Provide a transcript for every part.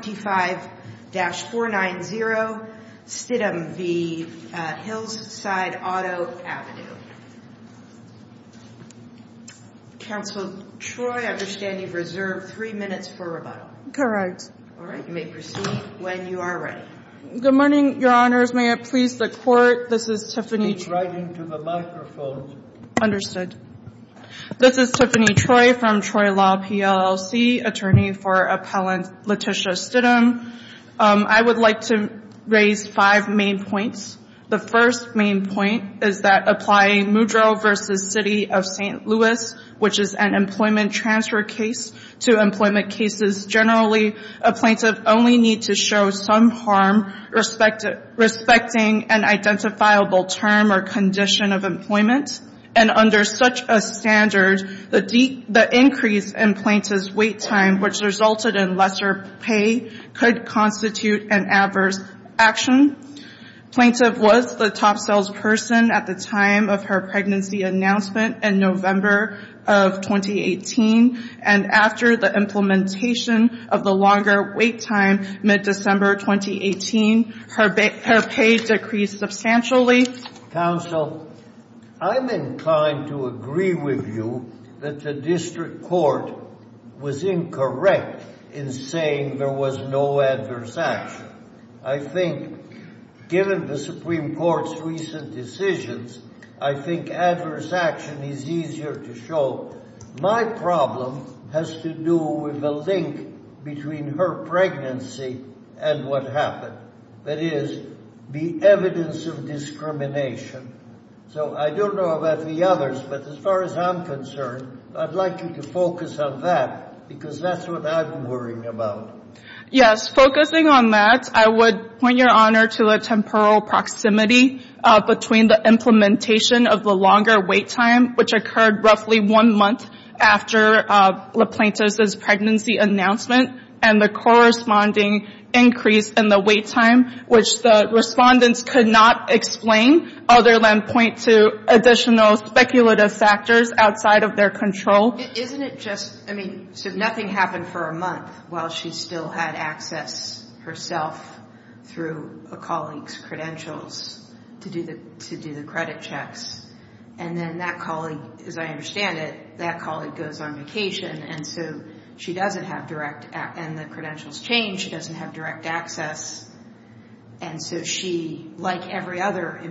25-490 Stidhum v. Hillside Auto Ave. Counsel Troy, I understand you've reserved three minutes for rebuttal. All right, you may proceed when you are ready. Good morning, Your Honors. May it please the Court, this is Tiffany Troy from Troy Law, PLLC, attorney for Appellant Letitia Stidhum. I would like to raise five main points. The first main point is that applying Mudro v. City of St. Louis, which is an employment transfer case to employment cases generally, a plaintiff only need to show some harm respecting an identifiable term or condition of employment, and under such a standard, the increase in plaintiff's wait time, which resulted in lesser pay, could constitute an adverse action. Plaintiff was the top salesperson at the time of her pregnancy announcement in November of 2018, and after the implementation of the longer wait time, mid-December 2018, her pay decreased substantially. Tiffany, counsel, I'm inclined to agree with you that the district court was incorrect in saying there was no adverse action. I think given the Supreme Court's recent decisions, I think adverse action is easier to show. My problem has to do with the link between her pregnancy and what happened, that is, the evidence of discrimination. So I don't know about the others, but as far as I'm concerned, I'd like you to focus on that, because that's what I'm worrying about. Yes, focusing on that, I would point your honor to the temporal proximity between the implementation of the longer wait time, which occurred roughly one month after the plaintiff's pregnancy announcement, and the corresponding increase in the wait time, which the respondents could not explain, other than point to additional speculative factors outside of their control. Isn't it just, I mean, so nothing happened for a month while she still had access herself through a colleague's credentials to do the credit checks, and then that colleague, as she doesn't have direct, and the credentials change, she doesn't have direct access, and so she, like every other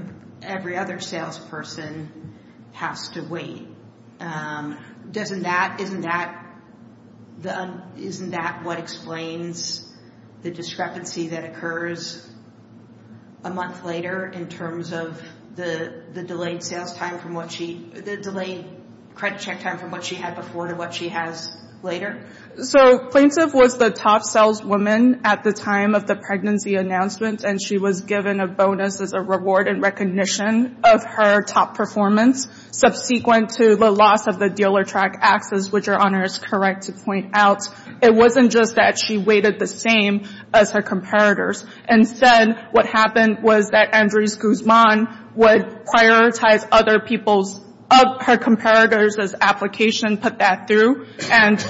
salesperson, has to wait. Isn't that what explains the discrepancy that occurs a month later in terms of the delayed sales time from what she, the delayed credit check time from what she had before to what she has later? So plaintiff was the top saleswoman at the time of the pregnancy announcement, and she was given a bonus as a reward in recognition of her top performance, subsequent to the loss of the dealer track access, which your honor is correct to point out. It wasn't just that she waited the same as her comparators. Instead, what happened was that Andres Guzman would prioritize other people's, her comparators as application, put that through, and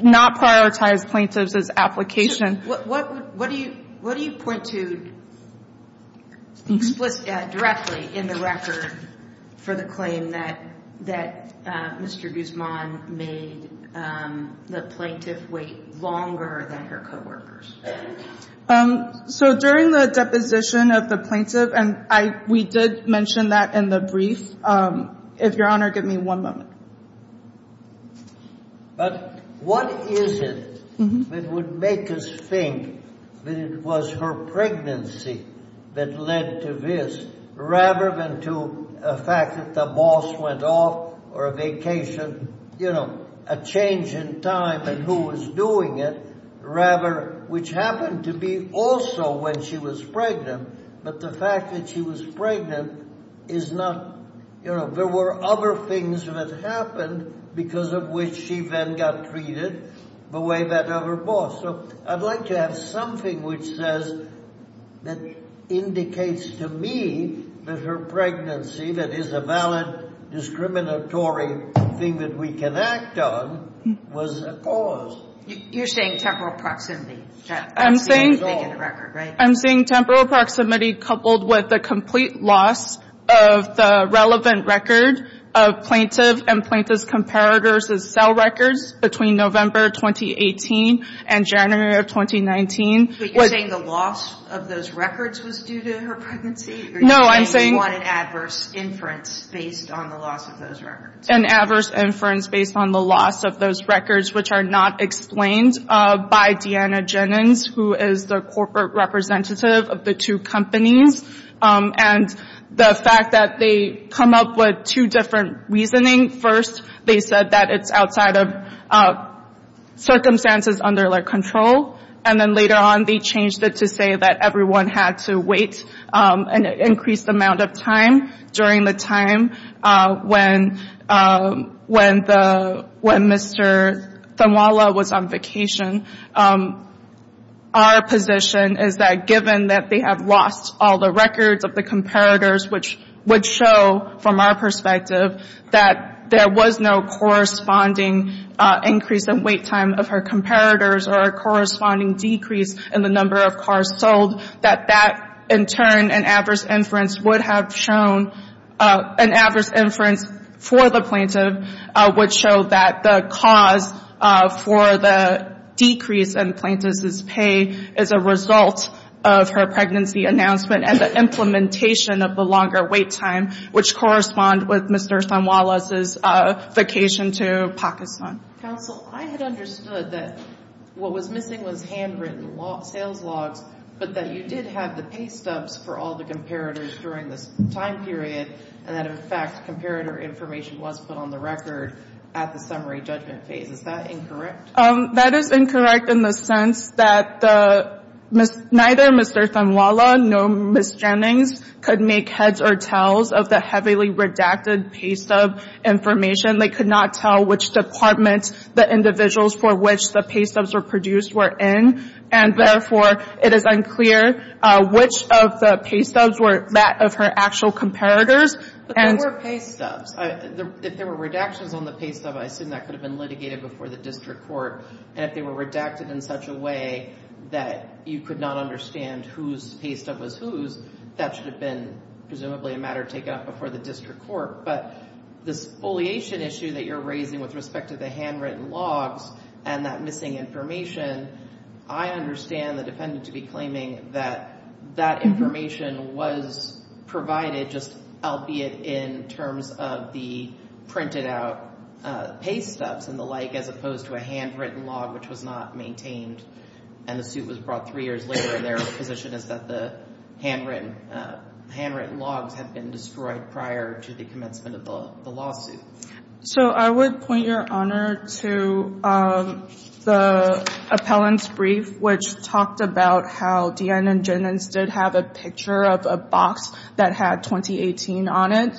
not prioritize plaintiffs as application. What do you point to explicitly, directly in the record for the claim that Mr. Guzman made the plaintiff wait longer than her coworkers? So during the deposition of the plaintiff, and I, we did mention that in the brief. If your honor, give me one moment. But what is it that would make us think that it was her pregnancy that led to this, rather than to a fact that the boss went off or a vacation, you know, a change in time and who was doing it, rather, which happened to be also when she was pregnant. But the fact that she was pregnant is not, you know, there were other things that happened because of which she then got treated the way that of her boss. So I'd like to have something which says, that indicates to me that her pregnancy, that is a valid discriminatory thing that we can act on, was a cause. You're saying temporal proximity. I'm saying temporal proximity coupled with the complete loss of the relevant record of plaintiff and plaintiff's comparators' cell records between November 2018 and January of 2019. But you're saying the loss of those records was due to her pregnancy? No, I'm saying. You want an adverse inference based on the loss of those records. An adverse inference based on the loss of those records, which are not explained by Deanna Jennings, who is the corporate representative of the two companies. And the fact that they come up with two different reasoning. First, they said that it's outside of circumstances under their control. And then later on, they changed it to say that everyone had to wait an increased amount of time during the time when Mr. Tanwala was on vacation. Our position is that given that they have lost all the records of the comparators, which would show from our perspective that there was no corresponding increase in wait time of her comparators or a corresponding decrease in the number of cars sold, that that in turn an adverse inference would have shown, an adverse inference for the plaintiff would show that the cause for the decrease in plaintiff's pay is a result of her pregnancy announcement and the implementation of the longer wait time, which correspond with Mr. Tanwala's vacation to Pakistan. Counsel, I had understood that what was missing was handwritten sales logs, but that you did have the pay stubs for all the comparators during this time period, and that, in fact, comparator information was put on the record at the summary judgment phase. Is that incorrect? That is incorrect in the sense that neither Mr. Tanwala nor Ms. Jennings could make heads or tells of the heavily redacted pay stub information. They could not tell which department the individuals for which the pay stubs were produced were in, and therefore, it is unclear which of the pay stubs were that of her actual comparators. But they were pay stubs. If there were redactions on the pay stub, I assume that could have been litigated before the district court, and if they were redacted in such a way that you could not understand whose pay stub was whose, that should have been presumably a matter taken up before the district court, but this foliation issue that you're raising with respect to the handwritten logs and that missing information, I understand the defendant to be claiming that that information was provided just albeit in terms of the printed out pay stubs and the like as opposed to a handwritten log, which was not maintained, and the suit was brought three years later, and their position is that the handwritten logs have been destroyed prior to the commencement of the lawsuit. So I would point your honor to the appellant's brief, which talked about how Deanne and Jennings did have a picture of a box that had 2018 on it.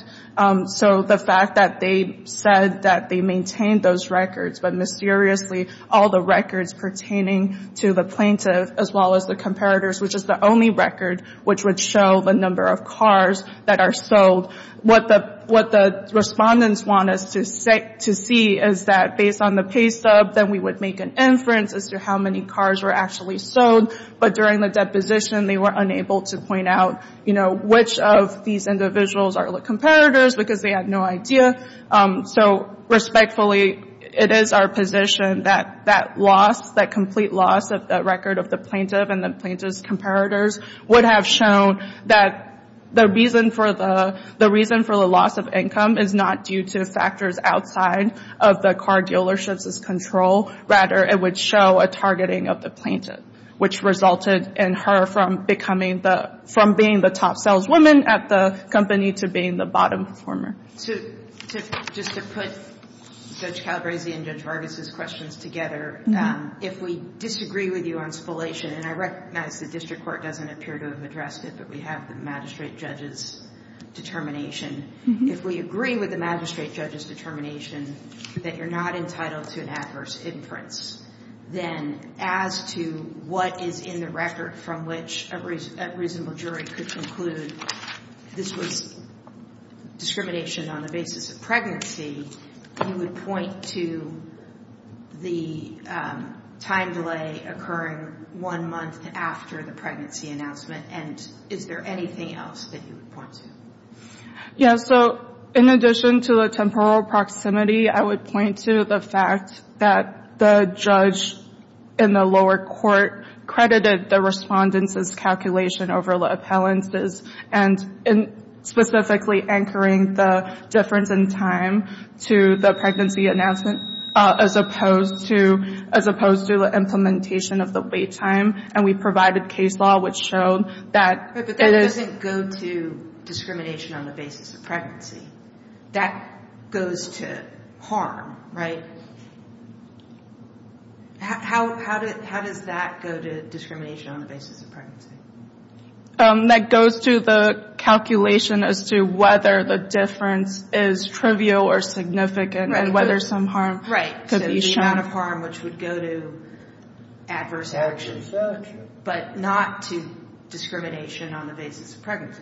So the fact that they said that they maintained those records, but mysteriously, all the records pertaining to the plaintiff as well as the comparators, which is the only record which would show the number of cars that are sold. What the respondents want us to see is that based on the pay stub, then we would make an inference as to how many cars were actually sold, but during the deposition, they were unable to point out, you know, which of these individuals are the comparators because they had no idea. So respectfully, it is our position that that loss, that complete loss of the record of the plaintiff and the plaintiff's comparators would have shown that the reason for the loss of income is not due to factors outside of the car dealership's control, rather it would show a targeting of the plaintiff, which resulted in her from being the top saleswoman at the company to being the bottom performer. So just to put Judge Calabresi and Judge Vargas' questions together, if we disagree with you on spoliation, and I recognize the district court doesn't appear to have addressed it, but we have the magistrate judge's determination. If we agree with the magistrate judge's determination that you're not entitled to an adverse inference, then as to what is in the record from which a reasonable jury could conclude this was discrimination on the basis of pregnancy, you would point to the time delay occurring one month after the pregnancy announcement, and is there anything else that you would point to? Yeah. So in addition to the temporal proximity, I would point to the fact that the judge in the lower court credited the respondents' calculation over the appellants' and specifically anchoring the difference in time to the pregnancy announcement as opposed to the implementation of the wait time, and we provided case law which showed that it is- But that doesn't go to discrimination on the basis of pregnancy. That goes to harm, right? How does that go to discrimination on the basis of pregnancy? That goes to the calculation as to whether the difference is trivial or significant, and whether some harm could be shown. Right. So the amount of harm which would go to adverse action, but not to discrimination on the basis of pregnancy.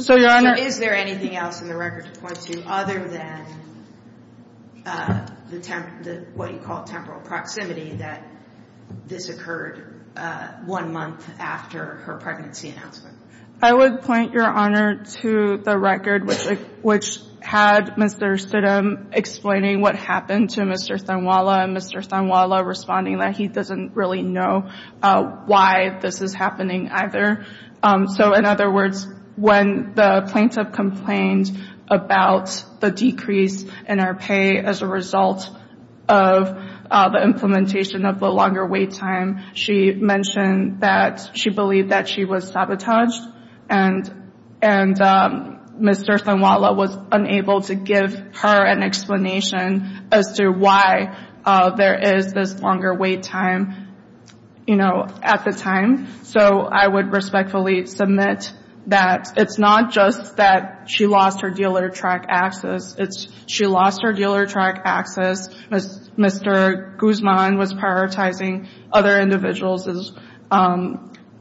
So, Your Honor- Is there anything else in the record to point to other than what you call temporal proximity, that this occurred one month after her pregnancy announcement? I would point, Your Honor, to the record which had Mr. Stidham explaining what happened to Mr. Thanwala, and Mr. Thanwala responding that he doesn't really know why this is happening either. So, in other words, when the plaintiff complained about the decrease in our pay as a result of the implementation of the longer wait time, she mentioned that she believed that she was sabotaged, and Mr. Thanwala was unable to give her an explanation as to why there is this longer wait time, you know, at the time. So I would respectfully submit that it's not just that she lost her dealer track access, it's she lost her dealer track access, Mr. Guzman was prioritizing other individuals as-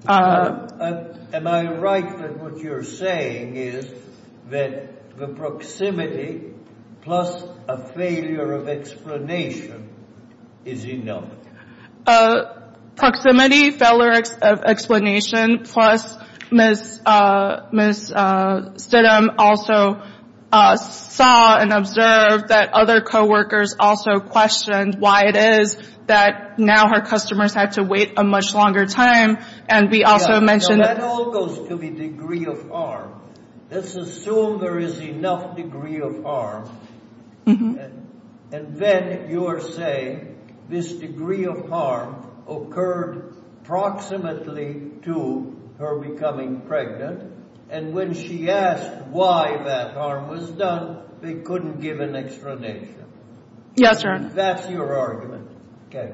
Am I right that what you're saying is that the proximity plus a failure of explanation is enough? Proximity, failure of explanation, plus Ms. Stidham also saw and observed that other co-workers also questioned why it is that now her customers had to wait a much longer time, and we also mentioned- That all goes to the degree of arm. Let's assume there is enough degree of arm, and then you're saying this degree of arm occurred proximately to her becoming pregnant, and when she asked why that arm was done, they couldn't give an explanation. Yes, sir. That's your argument. Okay.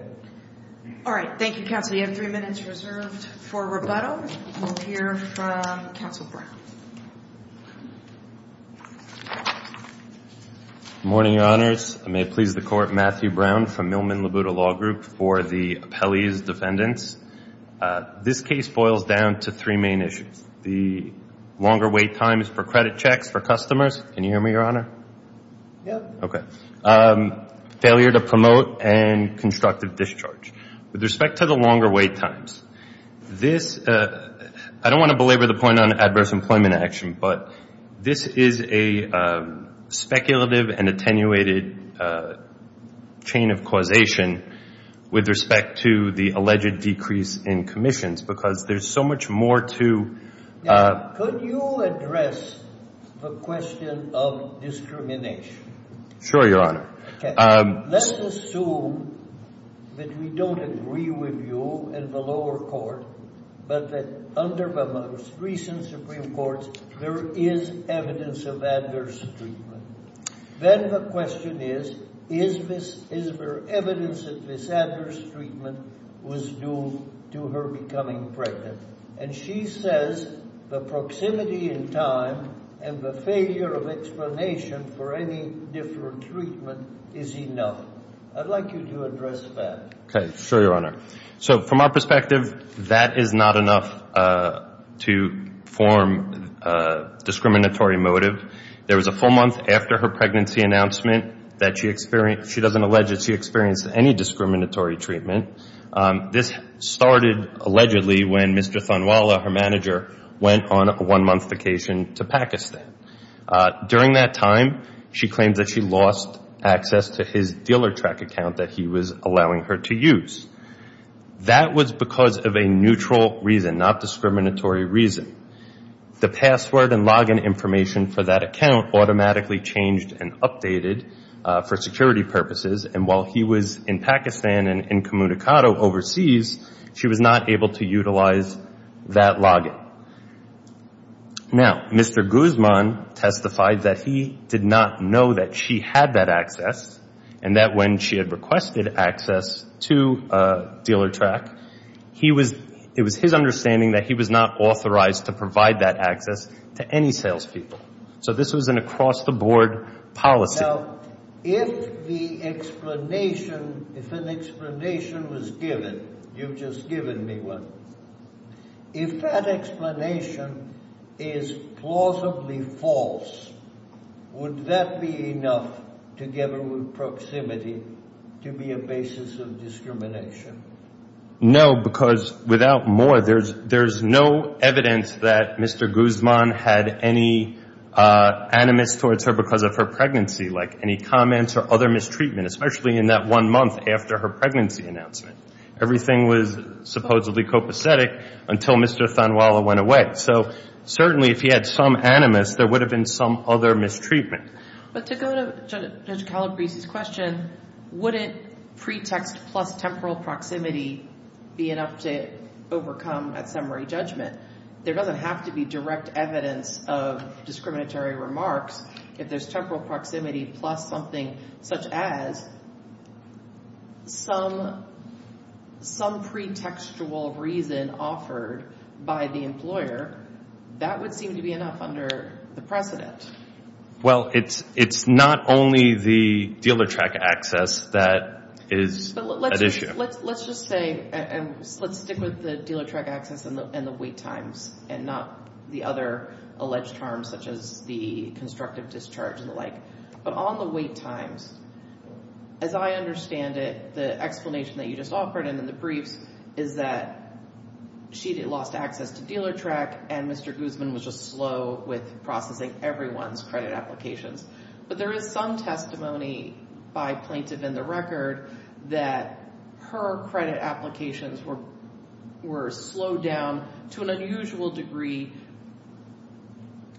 All right. Thank you, counsel. You have three minutes reserved for rebuttal. We'll hear from counsel Brown. Good morning, your honors. I may please the court, Matthew Brown from Millman Labuda Law Group for the appellee's defendants. This case boils down to three main issues. The longer wait times for credit checks for customers. Can you hear me, your honor? Yeah. Okay. Failure to promote and discharge. With respect to the longer wait times, I don't want to belabor the point on adverse employment action, but this is a speculative and attenuated chain of causation with respect to the alleged decrease in commissions because there's so much more to- Could you address the question of discrimination? Sure, your honor. Let's assume that we don't agree with you in the lower court, but that under the most recent Supreme Court, there is evidence of adverse treatment. Then the question is, is there evidence that this adverse treatment was due to her becoming pregnant? And she says the proximity and time and the failure of explanation for any different treatment is enough. I'd like you to address that. Okay. Sure, your honor. So from our perspective, that is not enough to form a discriminatory motive. There was a full month after her pregnancy announcement that she experienced, she doesn't allege that she experienced any discriminatory treatment. This started allegedly when Mr. Thanwala, her manager, went on a one-month vacation to Pakistan. During that time, she claims that she lost access to his dealer track account that he was allowing her to use. That was because of a neutral reason, not discriminatory reason. The password and login information for that account automatically changed and updated for security purposes. And while he was in Pakistan and in Communicado overseas, she was not able to utilize that login. Now, Mr. Guzman testified that he did not know that she had that access and that when she had requested access to dealer track, it was his understanding that he was not authorized to provide that access to any people. So this was an across-the-board policy. Now, if the explanation, if an explanation was given, you've just given me one, if that explanation is plausibly false, would that be enough to give her proximity to be a basis of discrimination? No, because without more, there's no evidence that Mr. Guzman had any animus towards her because of her pregnancy, like any comments or other mistreatment, especially in that one month after her pregnancy announcement. Everything was supposedly copacetic until Mr. Thanwala went away. So certainly, if he had some animus, there would have been some other mistreatment. But to go to Judge Calabrese's question, wouldn't pretext plus temporal proximity be enough to overcome a summary judgment? There doesn't have to be direct evidence of discriminatory remarks. If there's temporal proximity plus something such as some pretextual reason offered by the employer, that would seem to be enough under the precedent. Well, it's not only the dealer track access that is at issue. Let's just say, and let's stick with the dealer track access and the wait times, and not the other alleged harms such as the constructive discharge and the like. But on the wait times, as I understand it, the explanation that you just offered in the briefs is that she lost access to dealer track and Mr. Guzman was just slow with processing everyone's credit applications. But there is some testimony by plaintiff in the record that her credit applications were slowed down to an unusual degree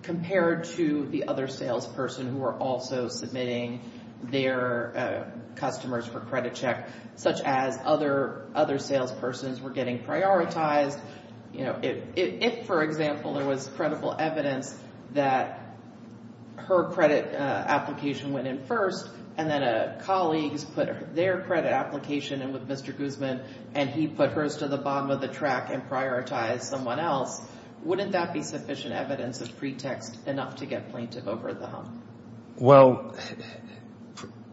compared to the other salesperson who were also submitting their customers for credit check, such as other salespersons were getting prioritized. If, for example, there was credible evidence that her credit application went in first and then colleagues put their credit application in with Mr. Guzman and he put hers to the bottom of the track and prioritized someone else, wouldn't that be sufficient evidence of pretext enough to get plaintiff over the hump? Well,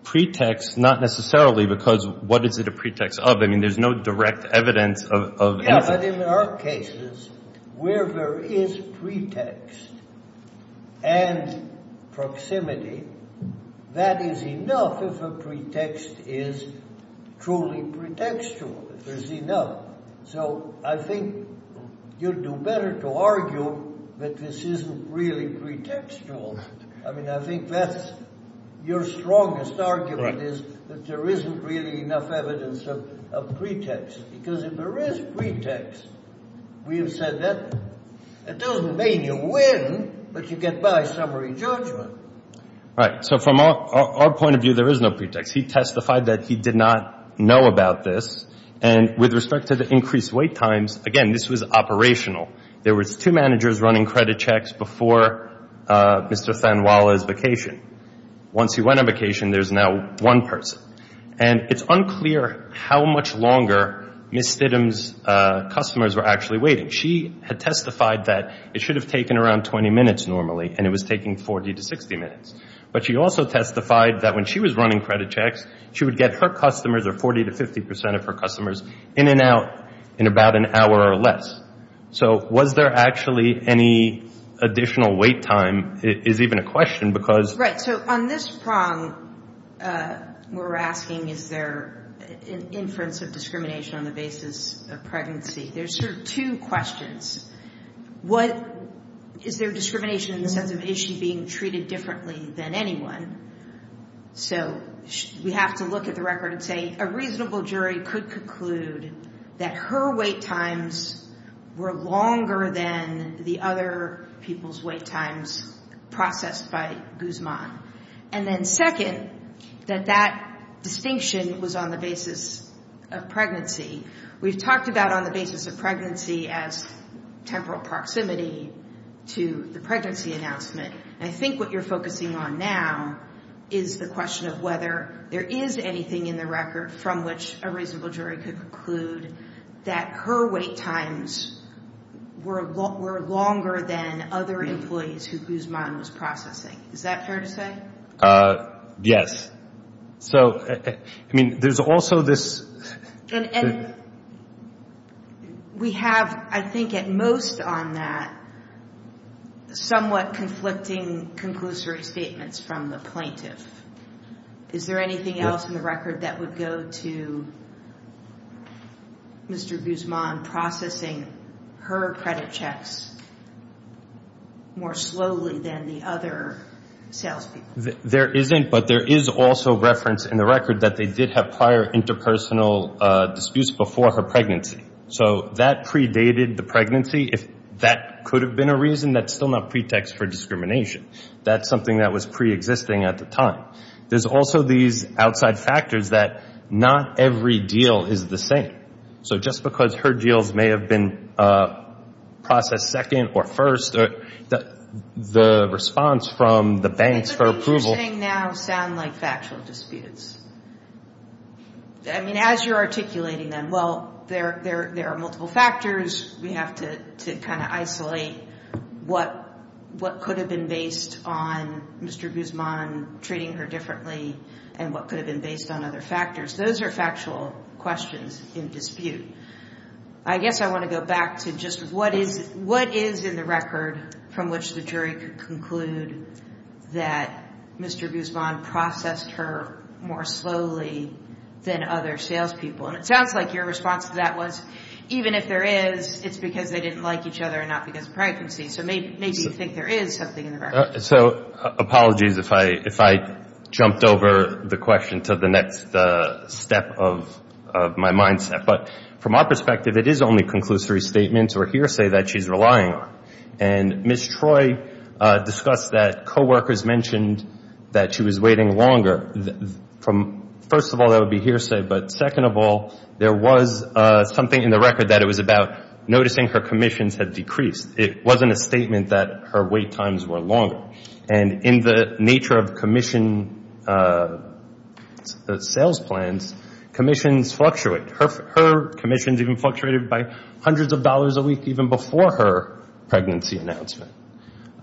pretext, not necessarily because what is it a pretext of? I mean, there's no direct evidence of anything. Yeah, but in our cases, where there is pretext and proximity, that is enough if a pretext is truly pretextual. There's enough. So I think you'd do better to argue that this isn't really pretextual. I mean, I think that's your strongest argument is that there isn't really enough evidence of pretext because if there is pretext, we have said that it doesn't mean you win, but you get by summary judgment. Right. So from our point of view, there is no pretext. He testified that he did not know about this. And with respect to the increased wait times, again, this was operational. There was two managers running credit checks before Mr. Sanwala's vacation. Once he went on vacation, there's now one person. And it's unclear how much longer Ms. Thitum's customers were actually waiting. She had testified that it should have taken around 20 minutes normally, and it was taking 40 to 60 minutes. But she also testified that when she was running credit checks, she would get her customers, or 40 to 50 percent of her customers, in and out in about an hour or less. So was there actually any additional wait time is even a question because... Right. So on this prong, we're asking, is there an inference of discrimination on the basis of pregnancy? There's sort of two questions. Is there discrimination in the sense of, is she treated differently than anyone? So we have to look at the record and say a reasonable jury could conclude that her wait times were longer than the other people's wait times processed by Guzman. And then second, that that distinction was on the basis of pregnancy. We've talked about on I think what you're focusing on now is the question of whether there is anything in the record from which a reasonable jury could conclude that her wait times were longer than other employees who Guzman was processing. Is that fair to say? Yes. So, I mean, there's also this... And we have, I think, at most on that somewhat conflicting conclusory statements from the plaintiff. Is there anything else in the record that would go to Mr. Guzman processing her credit checks more slowly than the other salespeople? There isn't, but there is also reference in the record that they did have prior interpersonal disputes before her pregnancy. So that predated the pregnancy. If that could have been a reason, that's still not pretext for discrimination. That's something that was preexisting at the time. There's also these outside factors that not every deal is the same. So just because her deals may have been processed second or first, the response from the banks for approval... I think the things you're saying now sound like factual disputes. I mean, as you're articulating them, well, there are multiple factors. We have to kind of isolate what could have been based on Mr. Guzman treating her differently and what could have been based on other factors. Those are factual questions in dispute. I guess I want to go back to just what is in the record from which the jury could conclude that Mr. Guzman processed her more slowly than other salespeople. And it sounds like your response to that was, even if there is, it's because they didn't like each other and not because of pregnancy. So maybe you think there is something in the record. So apologies if I jumped over the question to the next step of my mindset. But from our perspective, it is only conclusory statements or hearsay that she's relying on. And Ms. Troy discussed that coworkers mentioned that she was waiting longer. First of all, that would be hearsay. But second of all, there was something in the record that it was about noticing her commissions had decreased. It wasn't a statement that her wait times were longer. And in the nature of commission sales plans, commissions fluctuate. Her commissions even fluctuated by hundreds of dollars a week even before her pregnancy announcement.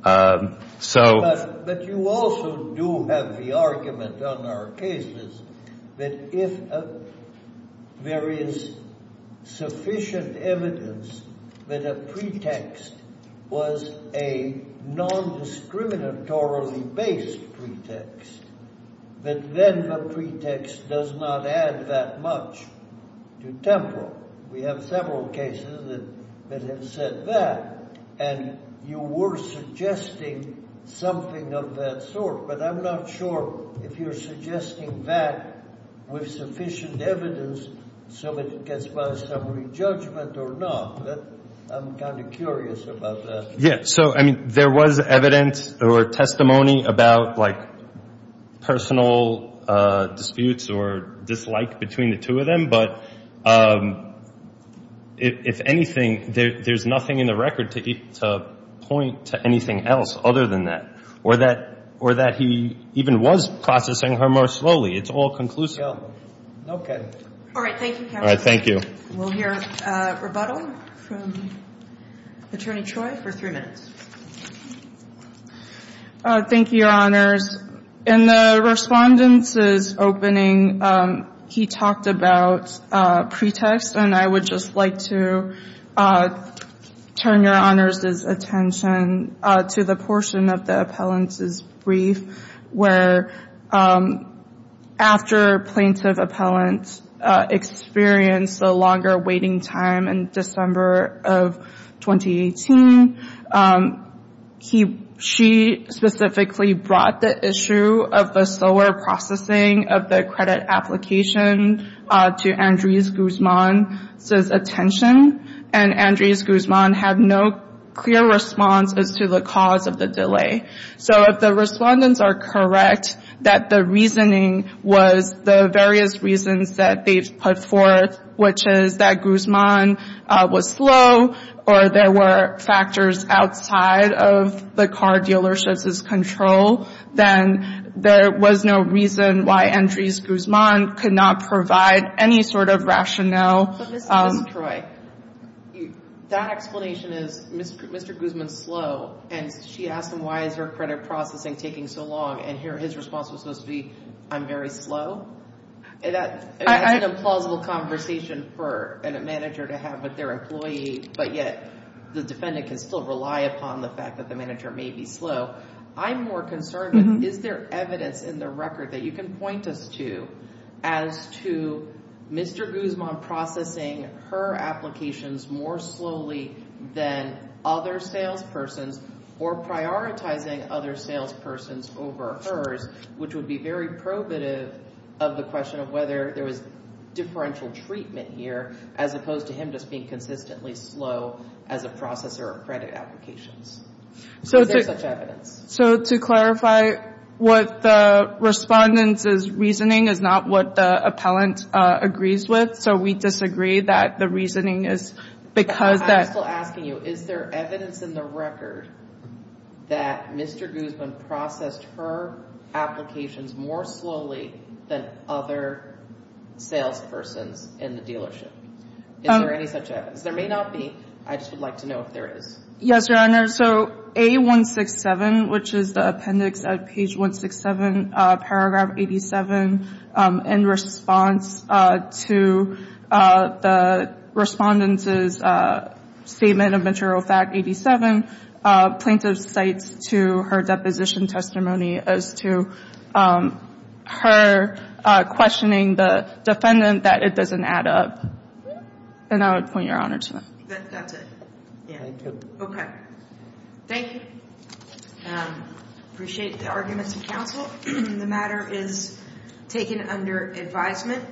But you also do have the argument on our cases that if there is sufficient evidence that a pretext was a non-discriminatorily based pretext, that then the pretext does not add that much to tempo. We have several cases that have said that. And you were suggesting something of that sort. But I'm not sure if you're suggesting that with sufficient evidence so that it gets by summary judgment or not. But I'm kind of curious about that. Yeah. So I mean, there was evidence or testimony about like personal disputes or dislike between the two of them. But if anything, there's nothing in the record to point to anything else other than that. Or that he even was processing her more slowly. It's all conclusive. All right. Thank you, counsel. All right. Thank you. We'll hear a rebuttal from Attorney Troy for three minutes. Thank you, Your Honors. In the respondent's opening, he talked about pretext. And I would just like to turn Your Honors' attention to the portion of the appellant's brief where after plaintiff appellant experienced the longer waiting time in December of 2018, she specifically brought the issue of the slower processing of the credit application to Andres Guzman's attention. And Andres Guzman had no clear response as to the cause of the delay. So if the respondents are correct that the reasoning was the various reasons that they've put forth, which is that Guzman was slow or there were factors outside of the car dealership's control, then there was no reason why Andres Guzman could not provide any sort of rationale. But Ms. Troy, that explanation is Mr. Guzman's slow. And she asked him why is her credit processing taking so long. And here his response was supposed to be, I'm very slow. That's an implausible conversation for a manager to have with their employee. But yet, the defendant can still rely upon the fact that the manager may be slow. I'm more concerned with is there evidence in the record that you can point us to as to Mr. Guzman processing her applications more slowly than other salespersons, or prioritizing other salespersons over hers, which would be very probative of the question of whether there was differential treatment here, as opposed to him just being consistently slow as a processor of credit applications. Is there such evidence? So, to clarify what the respondent's reasoning is not what the appellant agrees with. So, we disagree that the reasoning is because that. I'm still asking you, is there evidence in the record that Mr. Guzman processed her applications more slowly than other salespersons in the dealership? Is there any such evidence? There may not be. I just would like to know if there is. Yes, Your Honor. So, A167, which is the appendix at page 167, paragraph 87, in response to the respondent's statement of material fact 87, plaintiff cites to her deposition testimony as to her questioning the defendant that it doesn't add up. And I would point Your Honor to that. That's it. Yeah, I do. Okay. Thank you. Appreciate the arguments of counsel. The matter is taken under advisement.